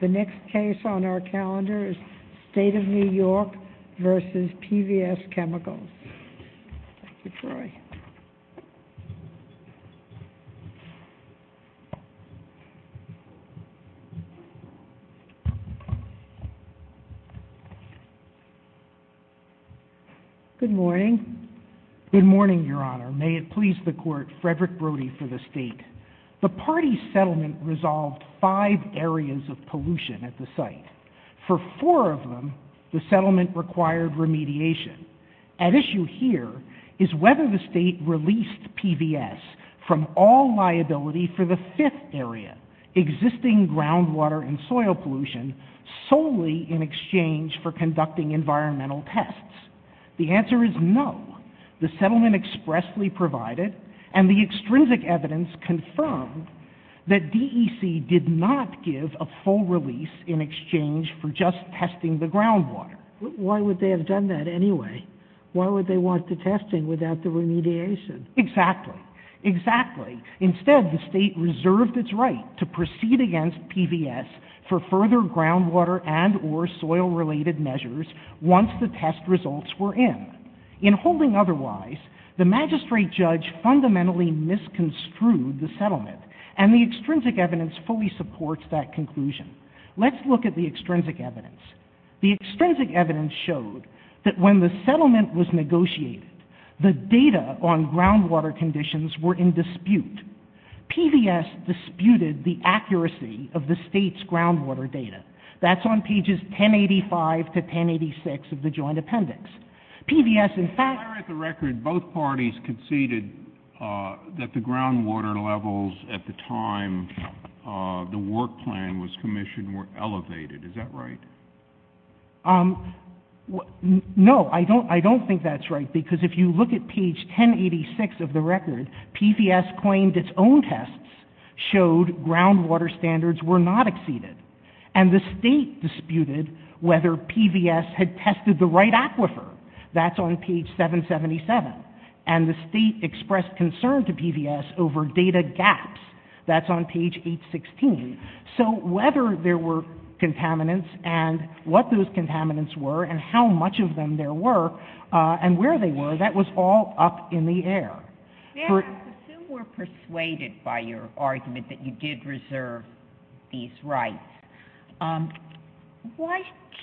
The next case on our calendar is State of New York v. PVS Chemicals. Thank you, Troy. Good morning. Good morning, Your Honor. May it please the Court, Frederick Brody for the State. The party settlement resolved five areas of pollution at the site. For four of them, the settlement required remediation. At issue here is whether the State released PVS from all liability for the fifth area, existing groundwater and soil pollution, solely in exchange for conducting environmental tests. The answer is no. The settlement expressly provided, and the extrinsic evidence confirmed, that DEC did not give a full release in exchange for just testing the groundwater. Why would they have done that anyway? Why would they want the testing without the remediation? Exactly. Exactly. Instead, the State reserved its right to proceed against PVS for further groundwater and or soil-related measures once the test results were in. In holding otherwise, the magistrate judge fundamentally misconstrued the settlement, and the extrinsic evidence fully supports that conclusion. Let's look at the extrinsic evidence. The extrinsic evidence showed that when the settlement was negotiated, the data on groundwater conditions were in dispute. PVS disputed the accuracy of the State's groundwater data. That's on pages 1085 to 1086 of the joint appendix. PVS, in fact... Prior to the record, both parties conceded that the groundwater levels at the time the work plan was commissioned were elevated. Is that right? No, I don't think that's right, because if you look at page 1086 of the record, PVS claimed its own tests showed groundwater standards were not exceeded, and the State disputed whether PVS had tested the right aquifer. That's on page 777. And the State expressed concern to PVS over data gaps. That's on page 816. So whether there were contaminants and what those contaminants were and how much of them there were and where they were, that was all up in the air. I assume we're persuaded by your argument that you did reserve these rights. Why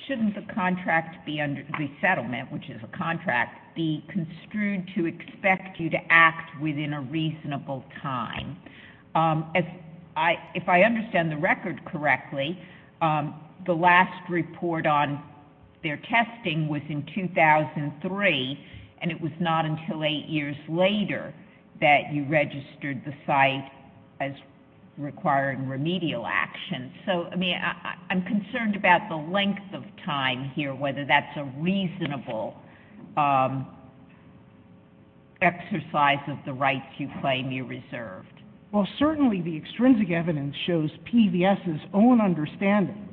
shouldn't the contract be under the settlement, which is a contract, be construed to expect you to act within a reasonable time? If I understand the record correctly, the last report on their testing was in 2003, and it was not until eight years later that you registered the site as requiring remedial action. So, I mean, I'm concerned about the length of time here, whether that's a reasonable exercise of the rights you claim you reserved. Well, certainly the extrinsic evidence shows PVS's own understanding.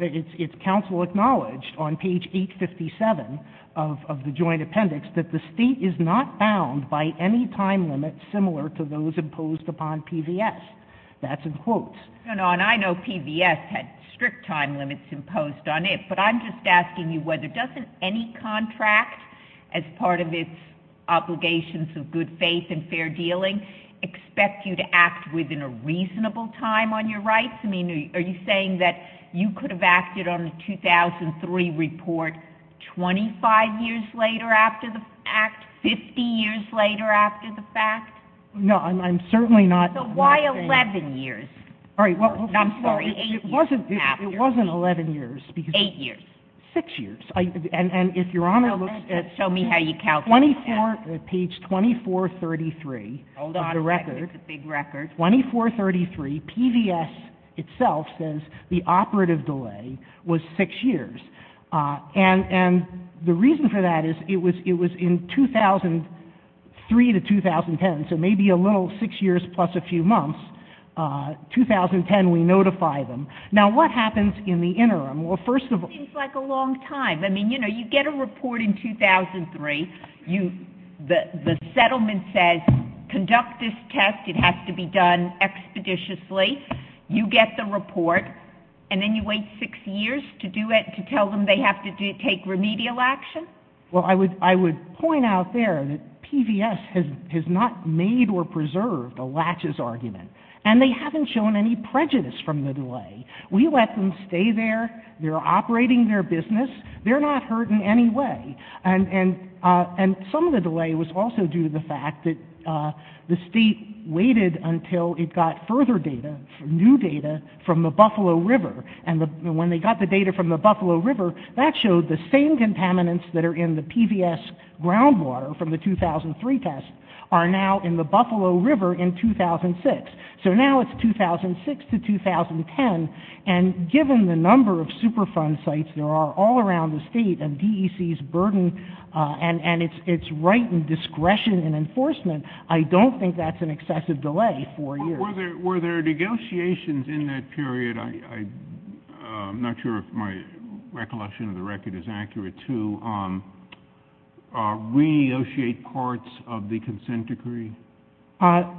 It's counsel acknowledged on page 857 of the joint appendix that the State is not bound by any time limit similar to those imposed upon PVS. That's in quotes. No, no, and I know PVS had strict time limits imposed on it, but I'm just asking you whether doesn't any contract, as part of its obligations of good faith and fair dealing, expect you to act within a reasonable time on your rights? Are you saying that you could have acted on a 2003 report 25 years later after the fact, 50 years later after the fact? No, I'm certainly not. So why 11 years? I'm sorry, it wasn't 11 years. Eight years. Six years. And if Your Honor looks at 24, page 2433 of the record. Hold on a second, it's a big record. 2433, PVS itself says the operative delay was six years. And the reason for that is it was in 2003 to 2010, so maybe a little six years plus a few months. 2010, we notify them. Now, what happens in the interim? Well, first of all, It seems like a long time. I mean, you know, you get a report in 2003. The settlement says conduct this test. It has to be done expeditiously. You get the report, and then you wait six years to do it, to tell them they have to take remedial action? Well, I would point out there that PVS has not made or preserved a latches argument, and they haven't shown any prejudice from the delay. We let them stay there. They're operating their business. They're not hurt in any way. And some of the delay was also due to the fact that the state waited until it got further data, new data, from the Buffalo River. And when they got the data from the Buffalo River, that showed the same contaminants that are in the PVS groundwater from the 2003 test are now in the Buffalo River in 2006. So now it's 2006 to 2010, and given the number of Superfund sites there are all around the state and DEC's burden and its right and discretion in enforcement, I don't think that's an excessive delay, four years. Were there negotiations in that period? I'm not sure if my recollection of the record is accurate to renegotiate parts of the consent decree.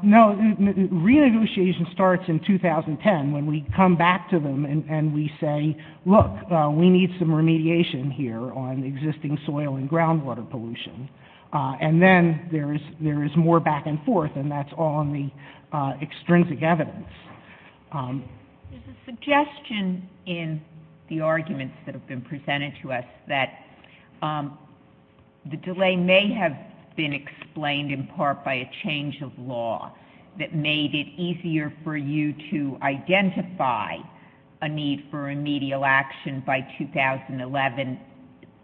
No, renegotiation starts in 2010 when we come back to them and we say, look, we need some remediation here on the existing soil and groundwater pollution. And then there is more back and forth, and that's all in the extrinsic evidence. There's a suggestion in the arguments that have been presented to us that the delay may have been explained in part by a change of law that made it easier for you to identify a need for remedial action by 2011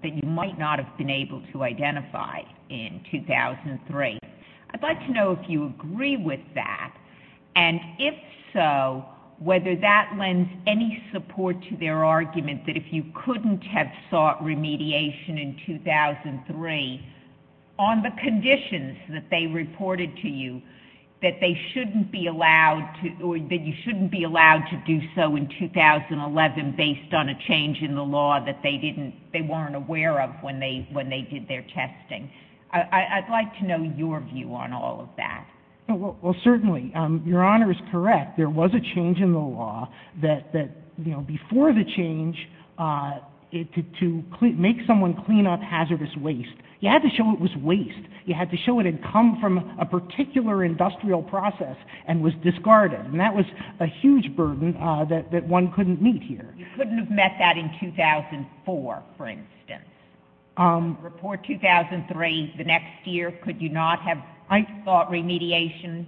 that you might not have been able to identify in 2003. I'd like to know if you agree with that. And if so, whether that lends any support to their argument that if you couldn't have sought remediation in 2003, on the conditions that they reported to you that you shouldn't be allowed to do so in 2011 based on a change in the law that they weren't aware of when they did their testing. I'd like to know your view on all of that. Well, certainly. Your Honor is correct. There was a change in the law before the change to make someone clean up hazardous waste. You had to show it was waste. You had to show it had come from a particular industrial process and was discarded. And that was a huge burden that one couldn't meet here. You couldn't have met that in 2004, for instance. Report 2003, the next year, could you not have sought remediation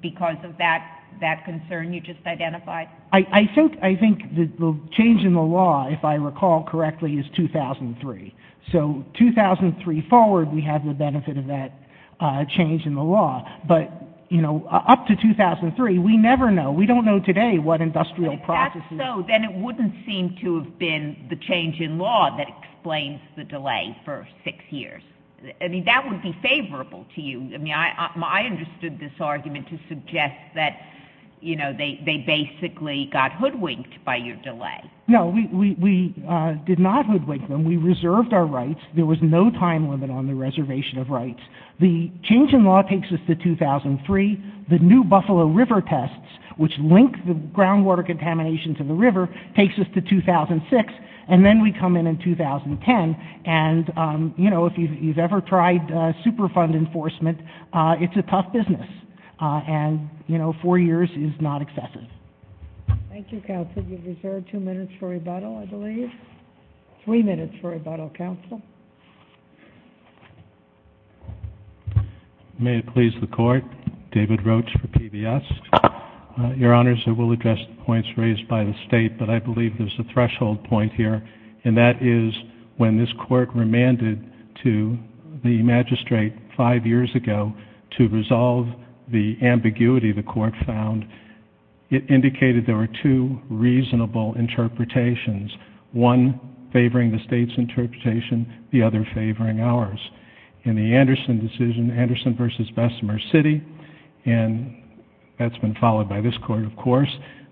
because of that concern you just identified? I think the change in the law, if I recall correctly, is 2003. So 2003 forward, we have the benefit of that change in the law. But, you know, up to 2003, we never know. We don't know today what industrial processes. But if that's so, then it wouldn't seem to have been the change in law that explains the delay for six years. I mean, that would be favorable to you. I mean, I understood this argument to suggest that, you know, they basically got hoodwinked by your delay. No, we did not hoodwink them. We reserved our rights. There was no time limit on the reservation of rights. The change in law takes us to 2003. The new Buffalo River tests, which link the groundwater contamination to the river, takes us to 2006, and then we come in in 2010. And, you know, if you've ever tried super fund enforcement, it's a tough business. And, you know, four years is not excessive. Thank you, counsel. You've reserved two minutes for rebuttal, I believe. Three minutes for rebuttal, counsel. May it please the Court. David Roach for PBS. Your Honors, I will address the points raised by the State, but I believe there's a threshold point here, and that is when this Court remanded to the magistrate five years ago to resolve the ambiguity the Court found, it indicated there were two reasonable interpretations, one favoring the State's interpretation, the other favoring ours. In the Anderson decision, Anderson v. Bessemer City,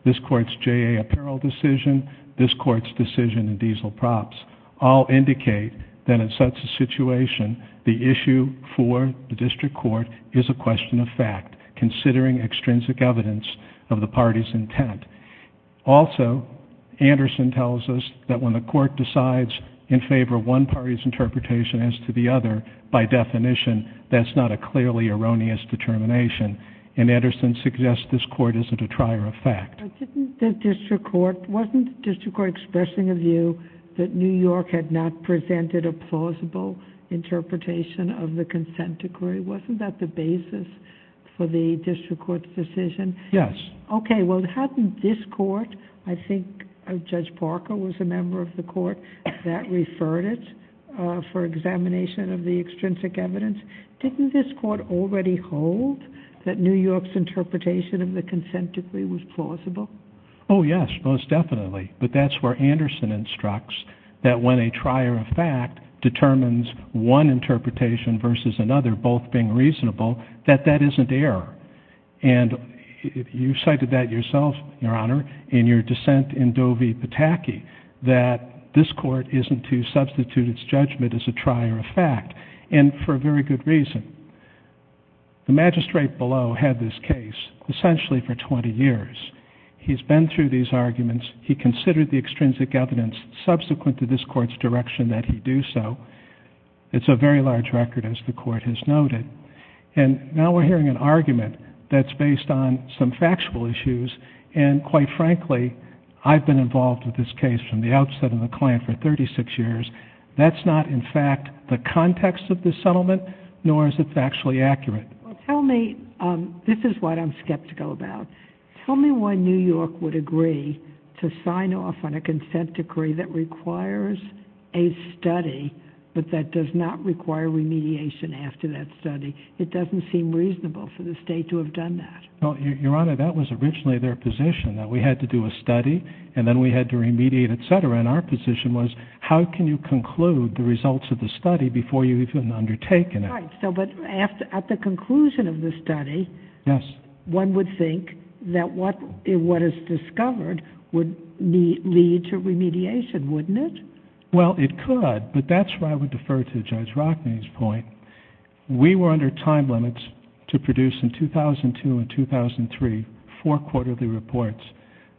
this Court's J.A. apparel decision, this Court's decision in diesel props, all indicate that in such a situation, the issue for the district court is a question of fact, considering extrinsic evidence of the party's intent. Also, Anderson tells us that when the Court decides in favor of one party's interpretation as to the other, by definition, that's not a clearly erroneous determination, and Anderson suggests this Court isn't a trier of fact. But wasn't the district court expressing a view that New York had not presented a plausible interpretation of the consent decree? Wasn't that the basis for the district court's decision? Yes. Okay, well, hadn't this Court, I think Judge Parker was a member of the Court, that referred it for examination of the extrinsic evidence? Didn't this Court already hold that New York's interpretation of the consent decree was plausible? Oh, yes, most definitely. But that's where Anderson instructs that when a trier of fact determines one interpretation versus another, both being reasonable, that that isn't error. And you cited that yourself, Your Honor, in your dissent in Doe v. Pataki, that this Court isn't to substitute its judgment as a trier of fact. And for a very good reason. The magistrate below had this case essentially for 20 years. He's been through these arguments. He considered the extrinsic evidence subsequent to this Court's direction that he do so. It's a very large record, as the Court has noted. And now we're hearing an argument that's based on some factual issues, and quite frankly, I've been involved with this case from the outset of the client for 36 years. That's not, in fact, the context of the settlement, nor is it factually accurate. Well, tell me, this is what I'm skeptical about. Tell me why New York would agree to sign off on a consent decree that requires a study, but that does not require remediation after that study. It doesn't seem reasonable for the state to have done that. Well, Your Honor, that was originally their position, that we had to do a study, and then we had to remediate, et cetera. And our position was, how can you conclude the results of the study before you've even undertaken it? Right. But at the conclusion of the study, one would think that what is discovered would lead to remediation, wouldn't it? Well, it could, but that's where I would defer to Judge Rockne's point. We were under time limits to produce in 2002 and 2003 four quarterly reports.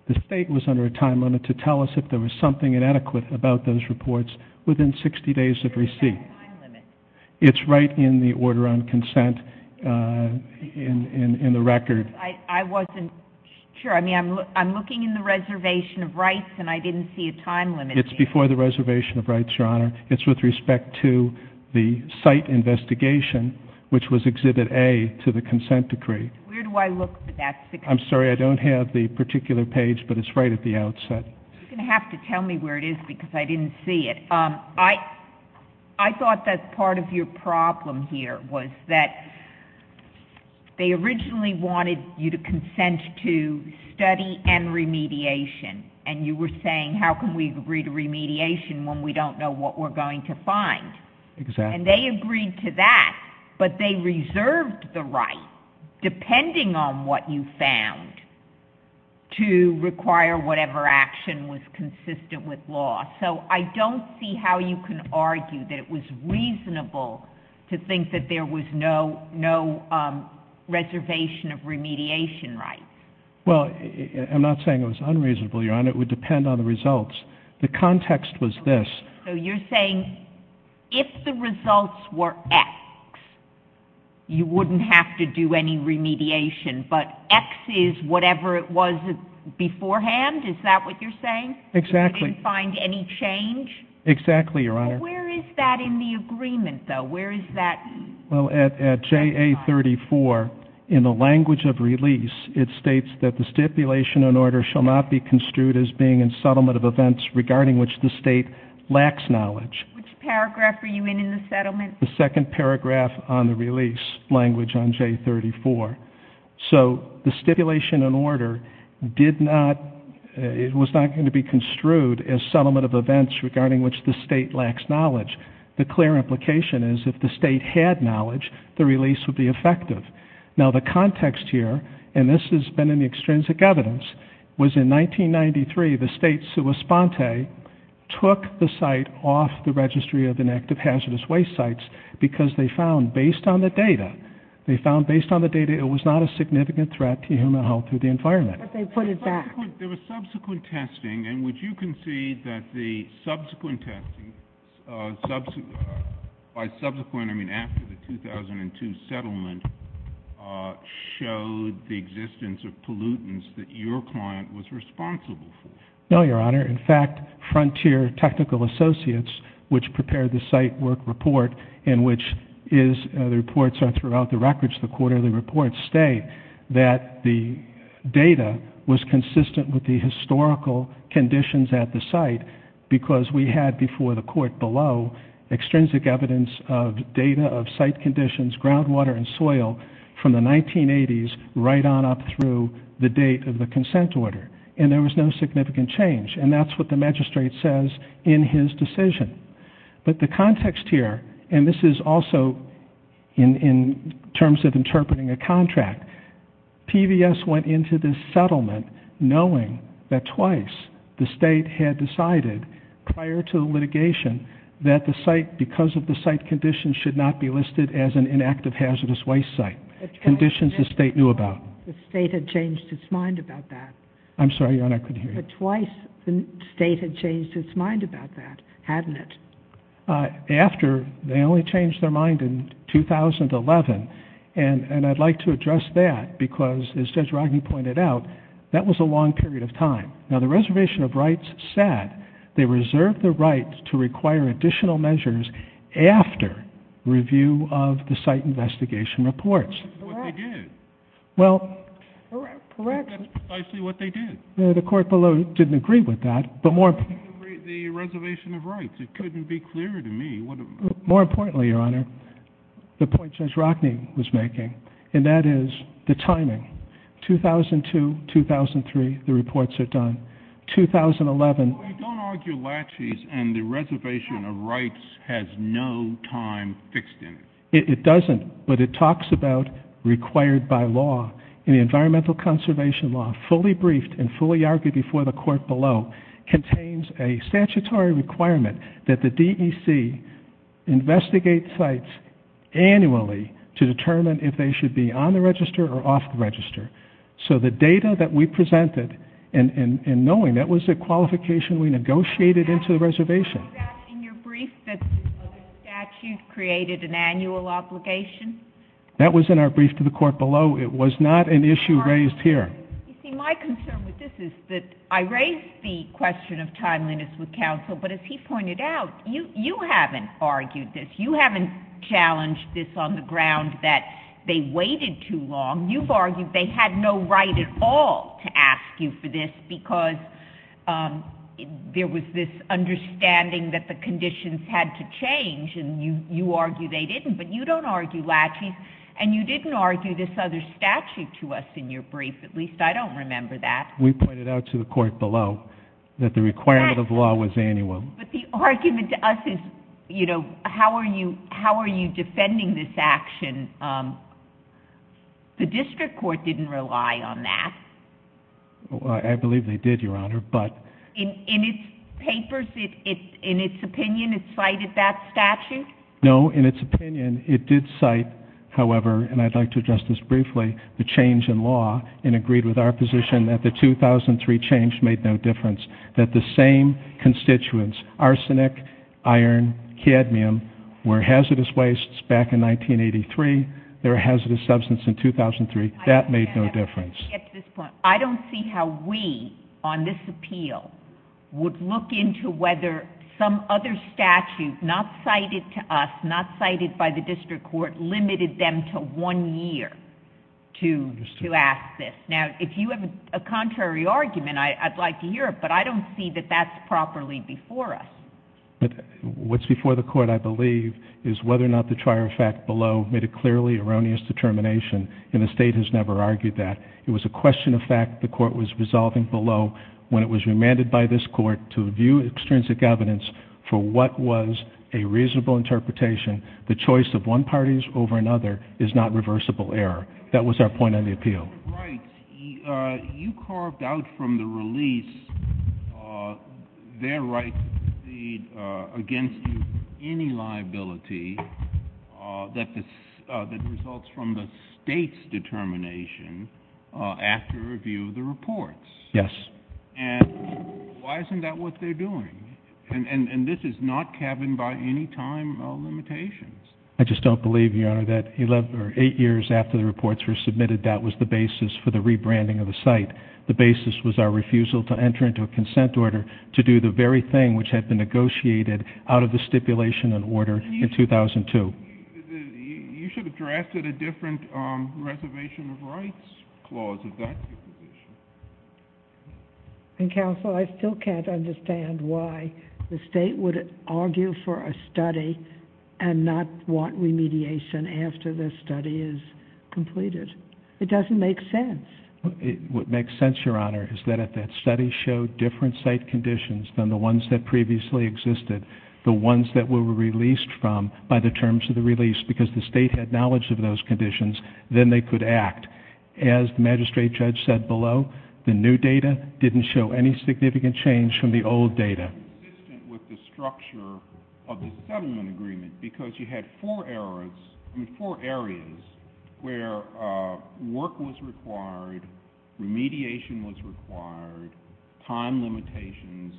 The state was under a time limit to tell us if there was something inadequate about those reports within 60 days of receipt. What is that time limit? It's right in the order on consent in the record. I wasn't sure. I mean, I'm looking in the reservation of rights, and I didn't see a time limit. It's before the reservation of rights, Your Honor. It's with respect to the site investigation, which was Exhibit A to the consent decree. Where do I look for that? I'm sorry, I don't have the particular page, but it's right at the outset. You're going to have to tell me where it is because I didn't see it. I thought that part of your problem here was that they originally wanted you to consent to study and remediation, and you were saying, how can we agree to remediation when we don't know what we're going to find? Exactly. And they agreed to that, but they reserved the right, depending on what you found, to require whatever action was consistent with law. So I don't see how you can argue that it was reasonable to think that there was no reservation of remediation rights. Well, I'm not saying it was unreasonable, Your Honor. It would depend on the results. The context was this. So you're saying if the results were X, you wouldn't have to do any remediation, but X is whatever it was beforehand? Is that what you're saying? Exactly. You didn't find any change? Exactly, Your Honor. Where is that in the agreement, though? Where is that? Well, at JA34, in the language of release, it states that the stipulation and order shall not be construed as being in settlement of events regarding which the State lacks knowledge. Which paragraph are you in in the settlement? The second paragraph on the release language on J34. So the stipulation and order was not going to be construed as settlement of events regarding which the State lacks knowledge. The clear implication is if the State had knowledge, the release would be effective. Now, the context here, and this has been in the extrinsic evidence, was in 1993, the State, sua sponte, took the site off the registry of inactive hazardous waste sites because they found, based on the data, they found, based on the data, it was not a significant threat to human health or the environment. But they put it back. There was subsequent testing, and would you concede that the subsequent testing, by subsequent I mean after the 2002 settlement, showed the existence of pollutants that your client was responsible for? No, Your Honor. In fact, Frontier Technical Associates, which prepared the site work report in which the reports are throughout the records, the quarterly reports, state that the data was consistent with the historical conditions at the site because we had before the court below extrinsic evidence of data of site conditions, groundwater, and soil from the 1980s right on up through the date of the consent order. And there was no significant change, and that's what the magistrate says in his decision. But the context here, and this is also in terms of interpreting a contract, PVS went into this settlement knowing that twice the State had decided prior to litigation that the site, because of the site conditions, should not be listed as an inactive hazardous waste site, conditions the State knew about. The State had changed its mind about that. I'm sorry, Your Honor, I couldn't hear you. But twice the State had changed its mind about that, hadn't it? After, they only changed their mind in 2011, and I'd like to address that because, as Judge Rogney pointed out, that was a long period of time. Now, the Reservation of Rights said they reserved the right to require additional measures after review of the site investigation reports. What they did? That's precisely what they did. The Court below didn't agree with that, but more importantly— They didn't agree with the Reservation of Rights. It couldn't be clearer to me. More importantly, Your Honor, the point Judge Rogney was making, and that is the timing. 2002, 2003, the reports are done. 2011— Well, we don't argue laches, and the Reservation of Rights has no time fixed in it. It doesn't, but it talks about required by law. The Environmental Conservation Law, fully briefed and fully argued before the Court below, contains a statutory requirement that the DEC investigate sites annually to determine if they should be on the register or off the register. So the data that we presented, and knowing that was a qualification we negotiated into the Reservation— That was in our brief to the Court below. It was not an issue raised here. You see, my concern with this is that I raised the question of timeliness with counsel, but as he pointed out, you haven't argued this. You haven't challenged this on the ground that they waited too long. You've argued they had no right at all to ask you for this because there was this understanding that the conditions had to change, and you argue they didn't. But you don't argue laches, and you didn't argue this other statute to us in your brief. At least, I don't remember that. We pointed out to the Court below that the requirement of law was annual. But the argument to us is, you know, how are you defending this action? The District Court didn't rely on that. I believe they did, Your Honor, but— In its papers, in its opinion, it cited that statute? No, in its opinion, it did cite, however, and I'd like to address this briefly, the change in law and agreed with our position that the 2003 change made no difference. That the same constituents, arsenic, iron, cadmium, were hazardous wastes back in 1983. They're a hazardous substance in 2003. That made no difference. I don't see how we, on this appeal, would look into whether some other statute not cited to us, not cited by the District Court, limited them to one year to ask this. Now, if you have a contrary argument, I'd like to hear it, but I don't see that that's properly before us. What's before the Court, I believe, is whether or not the trial fact below made a clearly erroneous determination, and the State has never argued that. It was a question of fact the Court was resolving below when it was remanded by this Court to view extrinsic evidence for what was a reasonable interpretation. The choice of one party over another is not reversible error. That was our point on the appeal. You carved out from the release their right against any liability that results from the State's determination after review of the reports. Yes. And why isn't that what they're doing? And this is not cabined by any time limitations. I just don't believe, Your Honor, that eight years after the reports were submitted, that was the basis for the rebranding of the site. The basis was our refusal to enter into a consent order to do the very thing which had been negotiated out of the stipulation and order in 2002. You should have drafted a different reservation of rights clause of that. Counsel, I still can't understand why the State would argue for a study and not want remediation after the study is completed. It doesn't make sense. What makes sense, Your Honor, is that if that study showed different site conditions than the ones that previously existed, the ones that were released from by the terms of the release because the State had knowledge of those conditions, then they could act. As the magistrate judge said below, the new data didn't show any significant change from the old data. It's inconsistent with the structure of the settlement agreement because you had four areas where work was required, remediation was required, time limitations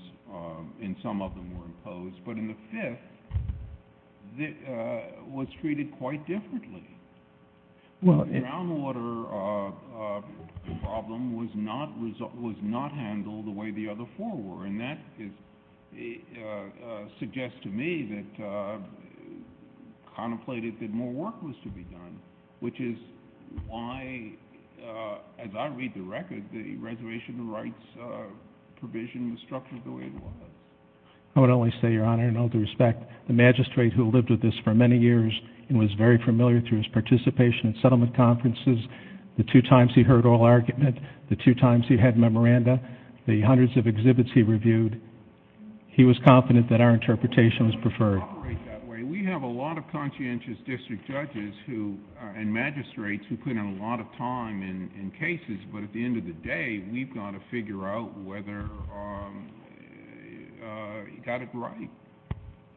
in some of them were imposed, but in the fifth, it was treated quite differently. The groundwater problem was not handled the way the other four were, and that suggests to me that contemplated that more work was to be done, which is why, as I read the record, the reservation of rights provision was structured the way it was. I would only say, Your Honor, in all due respect, the magistrate who lived with this for many years and was very familiar through his participation in settlement conferences, the two times he heard oral argument, the two times he had memoranda, the hundreds of exhibits he reviewed, he was confident that our interpretation was preferred. We have a lot of conscientious district judges and magistrates who put in a lot of time in cases, but at the end of the day, we've got to figure out whether he got it right.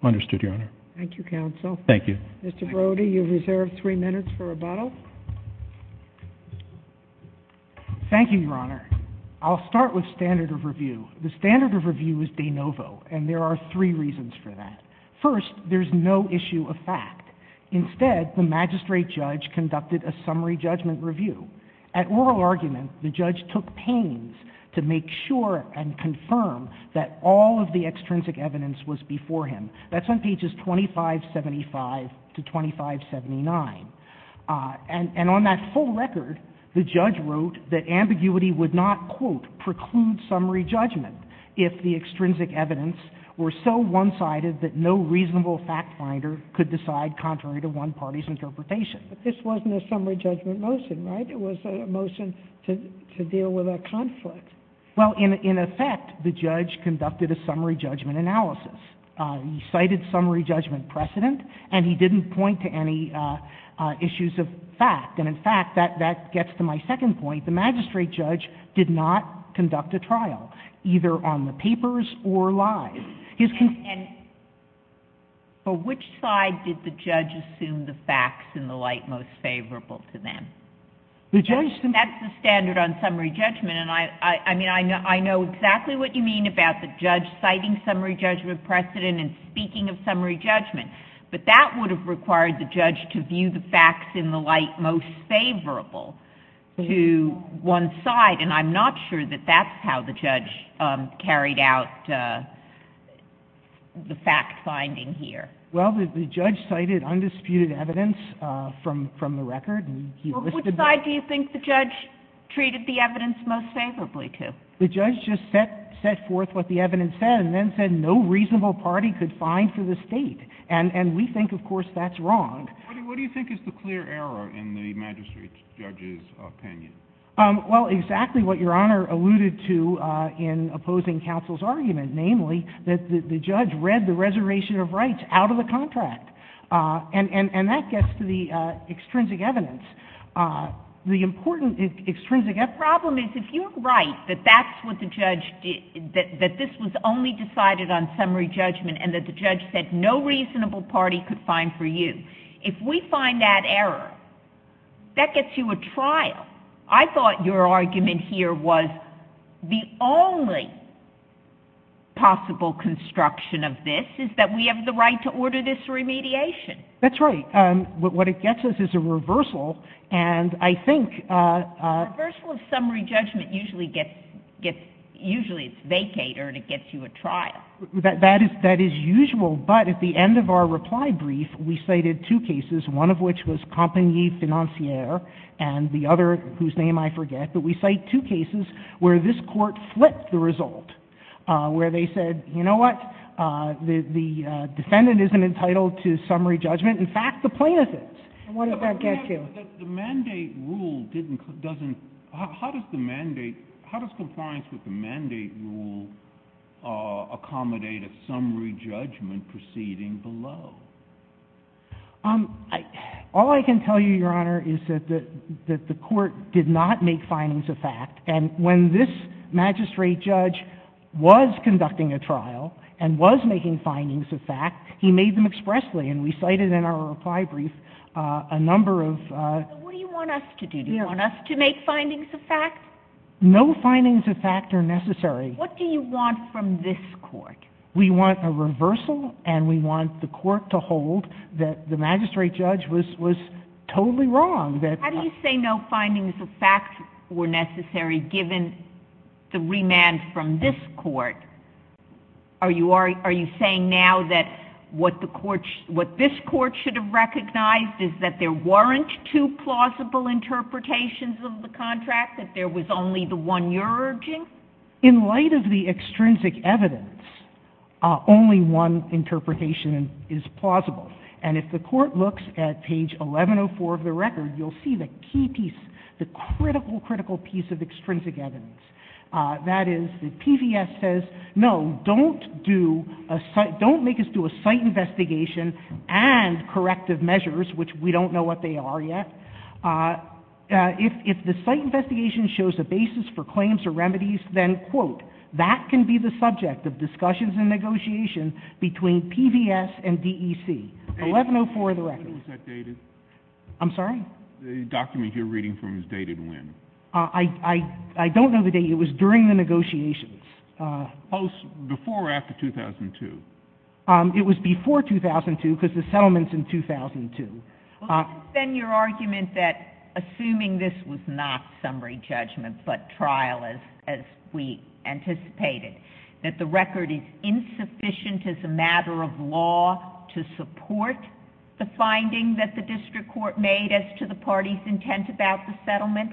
Understood, Your Honor. Thank you, Counsel. Thank you. Mr. Brody, you're reserved three minutes for rebuttal. Thank you, Your Honor. I'll start with standard of review. The standard of review is de novo, and there are three reasons for that. First, there's no issue of fact. Instead, the magistrate judge conducted a summary judgment review. At oral argument, the judge took pains to make sure and confirm that all of the extrinsic evidence was before him. That's on pages 2575 to 2579. And on that full record, the judge wrote that ambiguity would not, quote, preclude summary judgment if the extrinsic evidence were so one-sided that no reasonable fact finder could decide contrary to one party's interpretation. But this wasn't a summary judgment motion, right? It was a motion to deal with a conflict. Well, in effect, the judge conducted a summary judgment analysis. He cited summary judgment precedent, and he didn't point to any issues of fact. And, in fact, that gets to my second point. The magistrate judge did not conduct a trial, either on the papers or live. And for which side did the judge assume the facts in the light most favorable to them? That's the standard on summary judgment. And, I mean, I know exactly what you mean about the judge citing summary judgment precedent and speaking of summary judgment. But that would have required the judge to view the facts in the light most favorable to one side, and I'm not sure that that's how the judge carried out the fact finding here. Well, the judge cited undisputed evidence from the record. Well, which side do you think the judge treated the evidence most favorably to? The judge just set forth what the evidence said and then said no reasonable party could find for the State. And we think, of course, that's wrong. What do you think is the clear error in the magistrate judge's opinion? Well, exactly what Your Honor alluded to in opposing counsel's argument, namely that the judge read the reservation of rights out of the contract. And that gets to the extrinsic evidence. The important extrinsic evidence. The problem is if you're right that that's what the judge did, that this was only decided on summary judgment and that the judge said no reasonable party could find for you, if we find that error, that gets you a trial. I thought your argument here was the only possible construction of this is that we have the right to order this remediation. That's right. What it gets us is a reversal, and I think — A reversal of summary judgment usually gets — usually it's vacater and it gets you a trial. That is usual, but at the end of our reply brief we cited two cases, one of which was Compagnie Financière and the other whose name I forget. But we cite two cases where this Court flipped the result, where they said, you know what, the defendant isn't entitled to summary judgment. In fact, the plaintiff is. And what does that get you? The mandate rule doesn't — how does the mandate — how does compliance with the mandate rule accommodate a summary judgment proceeding below? All I can tell you, Your Honor, is that the Court did not make findings of fact. And when this magistrate judge was conducting a trial and was making findings of fact, he made them expressly, and we cited in our reply brief a number of — What do you want us to do? Do you want us to make findings of fact? No findings of fact are necessary. What do you want from this Court? We want a reversal, and we want the Court to hold that the magistrate judge was totally wrong. How do you say no findings of fact were necessary given the remand from this Court? Are you saying now that what this Court should have recognized is that there weren't two plausible interpretations of the contract, that there was only the one you're urging? In light of the extrinsic evidence, only one interpretation is plausible. And if the Court looks at page 1104 of the record, you'll see the key piece, the critical, critical piece of extrinsic evidence. That is, the PVS says, no, don't make us do a site investigation and corrective measures, which we don't know what they are yet. If the site investigation shows a basis for claims or remedies, then, quote, that can be the subject of discussions and negotiations between PVS and DEC. 1104 of the record. When was that dated? I'm sorry? The document you're reading from is dated when? I don't know the date. It was during the negotiations. Before or after 2002? It was before 2002 because the settlement's in 2002. Then your argument that, assuming this was not summary judgment but trial as we anticipated, that the record is insufficient as a matter of law to support the finding that the district court made as to the party's intent about the settlement?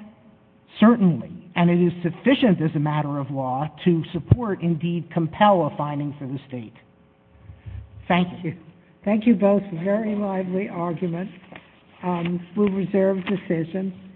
Certainly. And it is sufficient as a matter of law to support, indeed compel, a finding for the state. Thank you. Thank you both. Very lively arguments. We'll reserve decisions.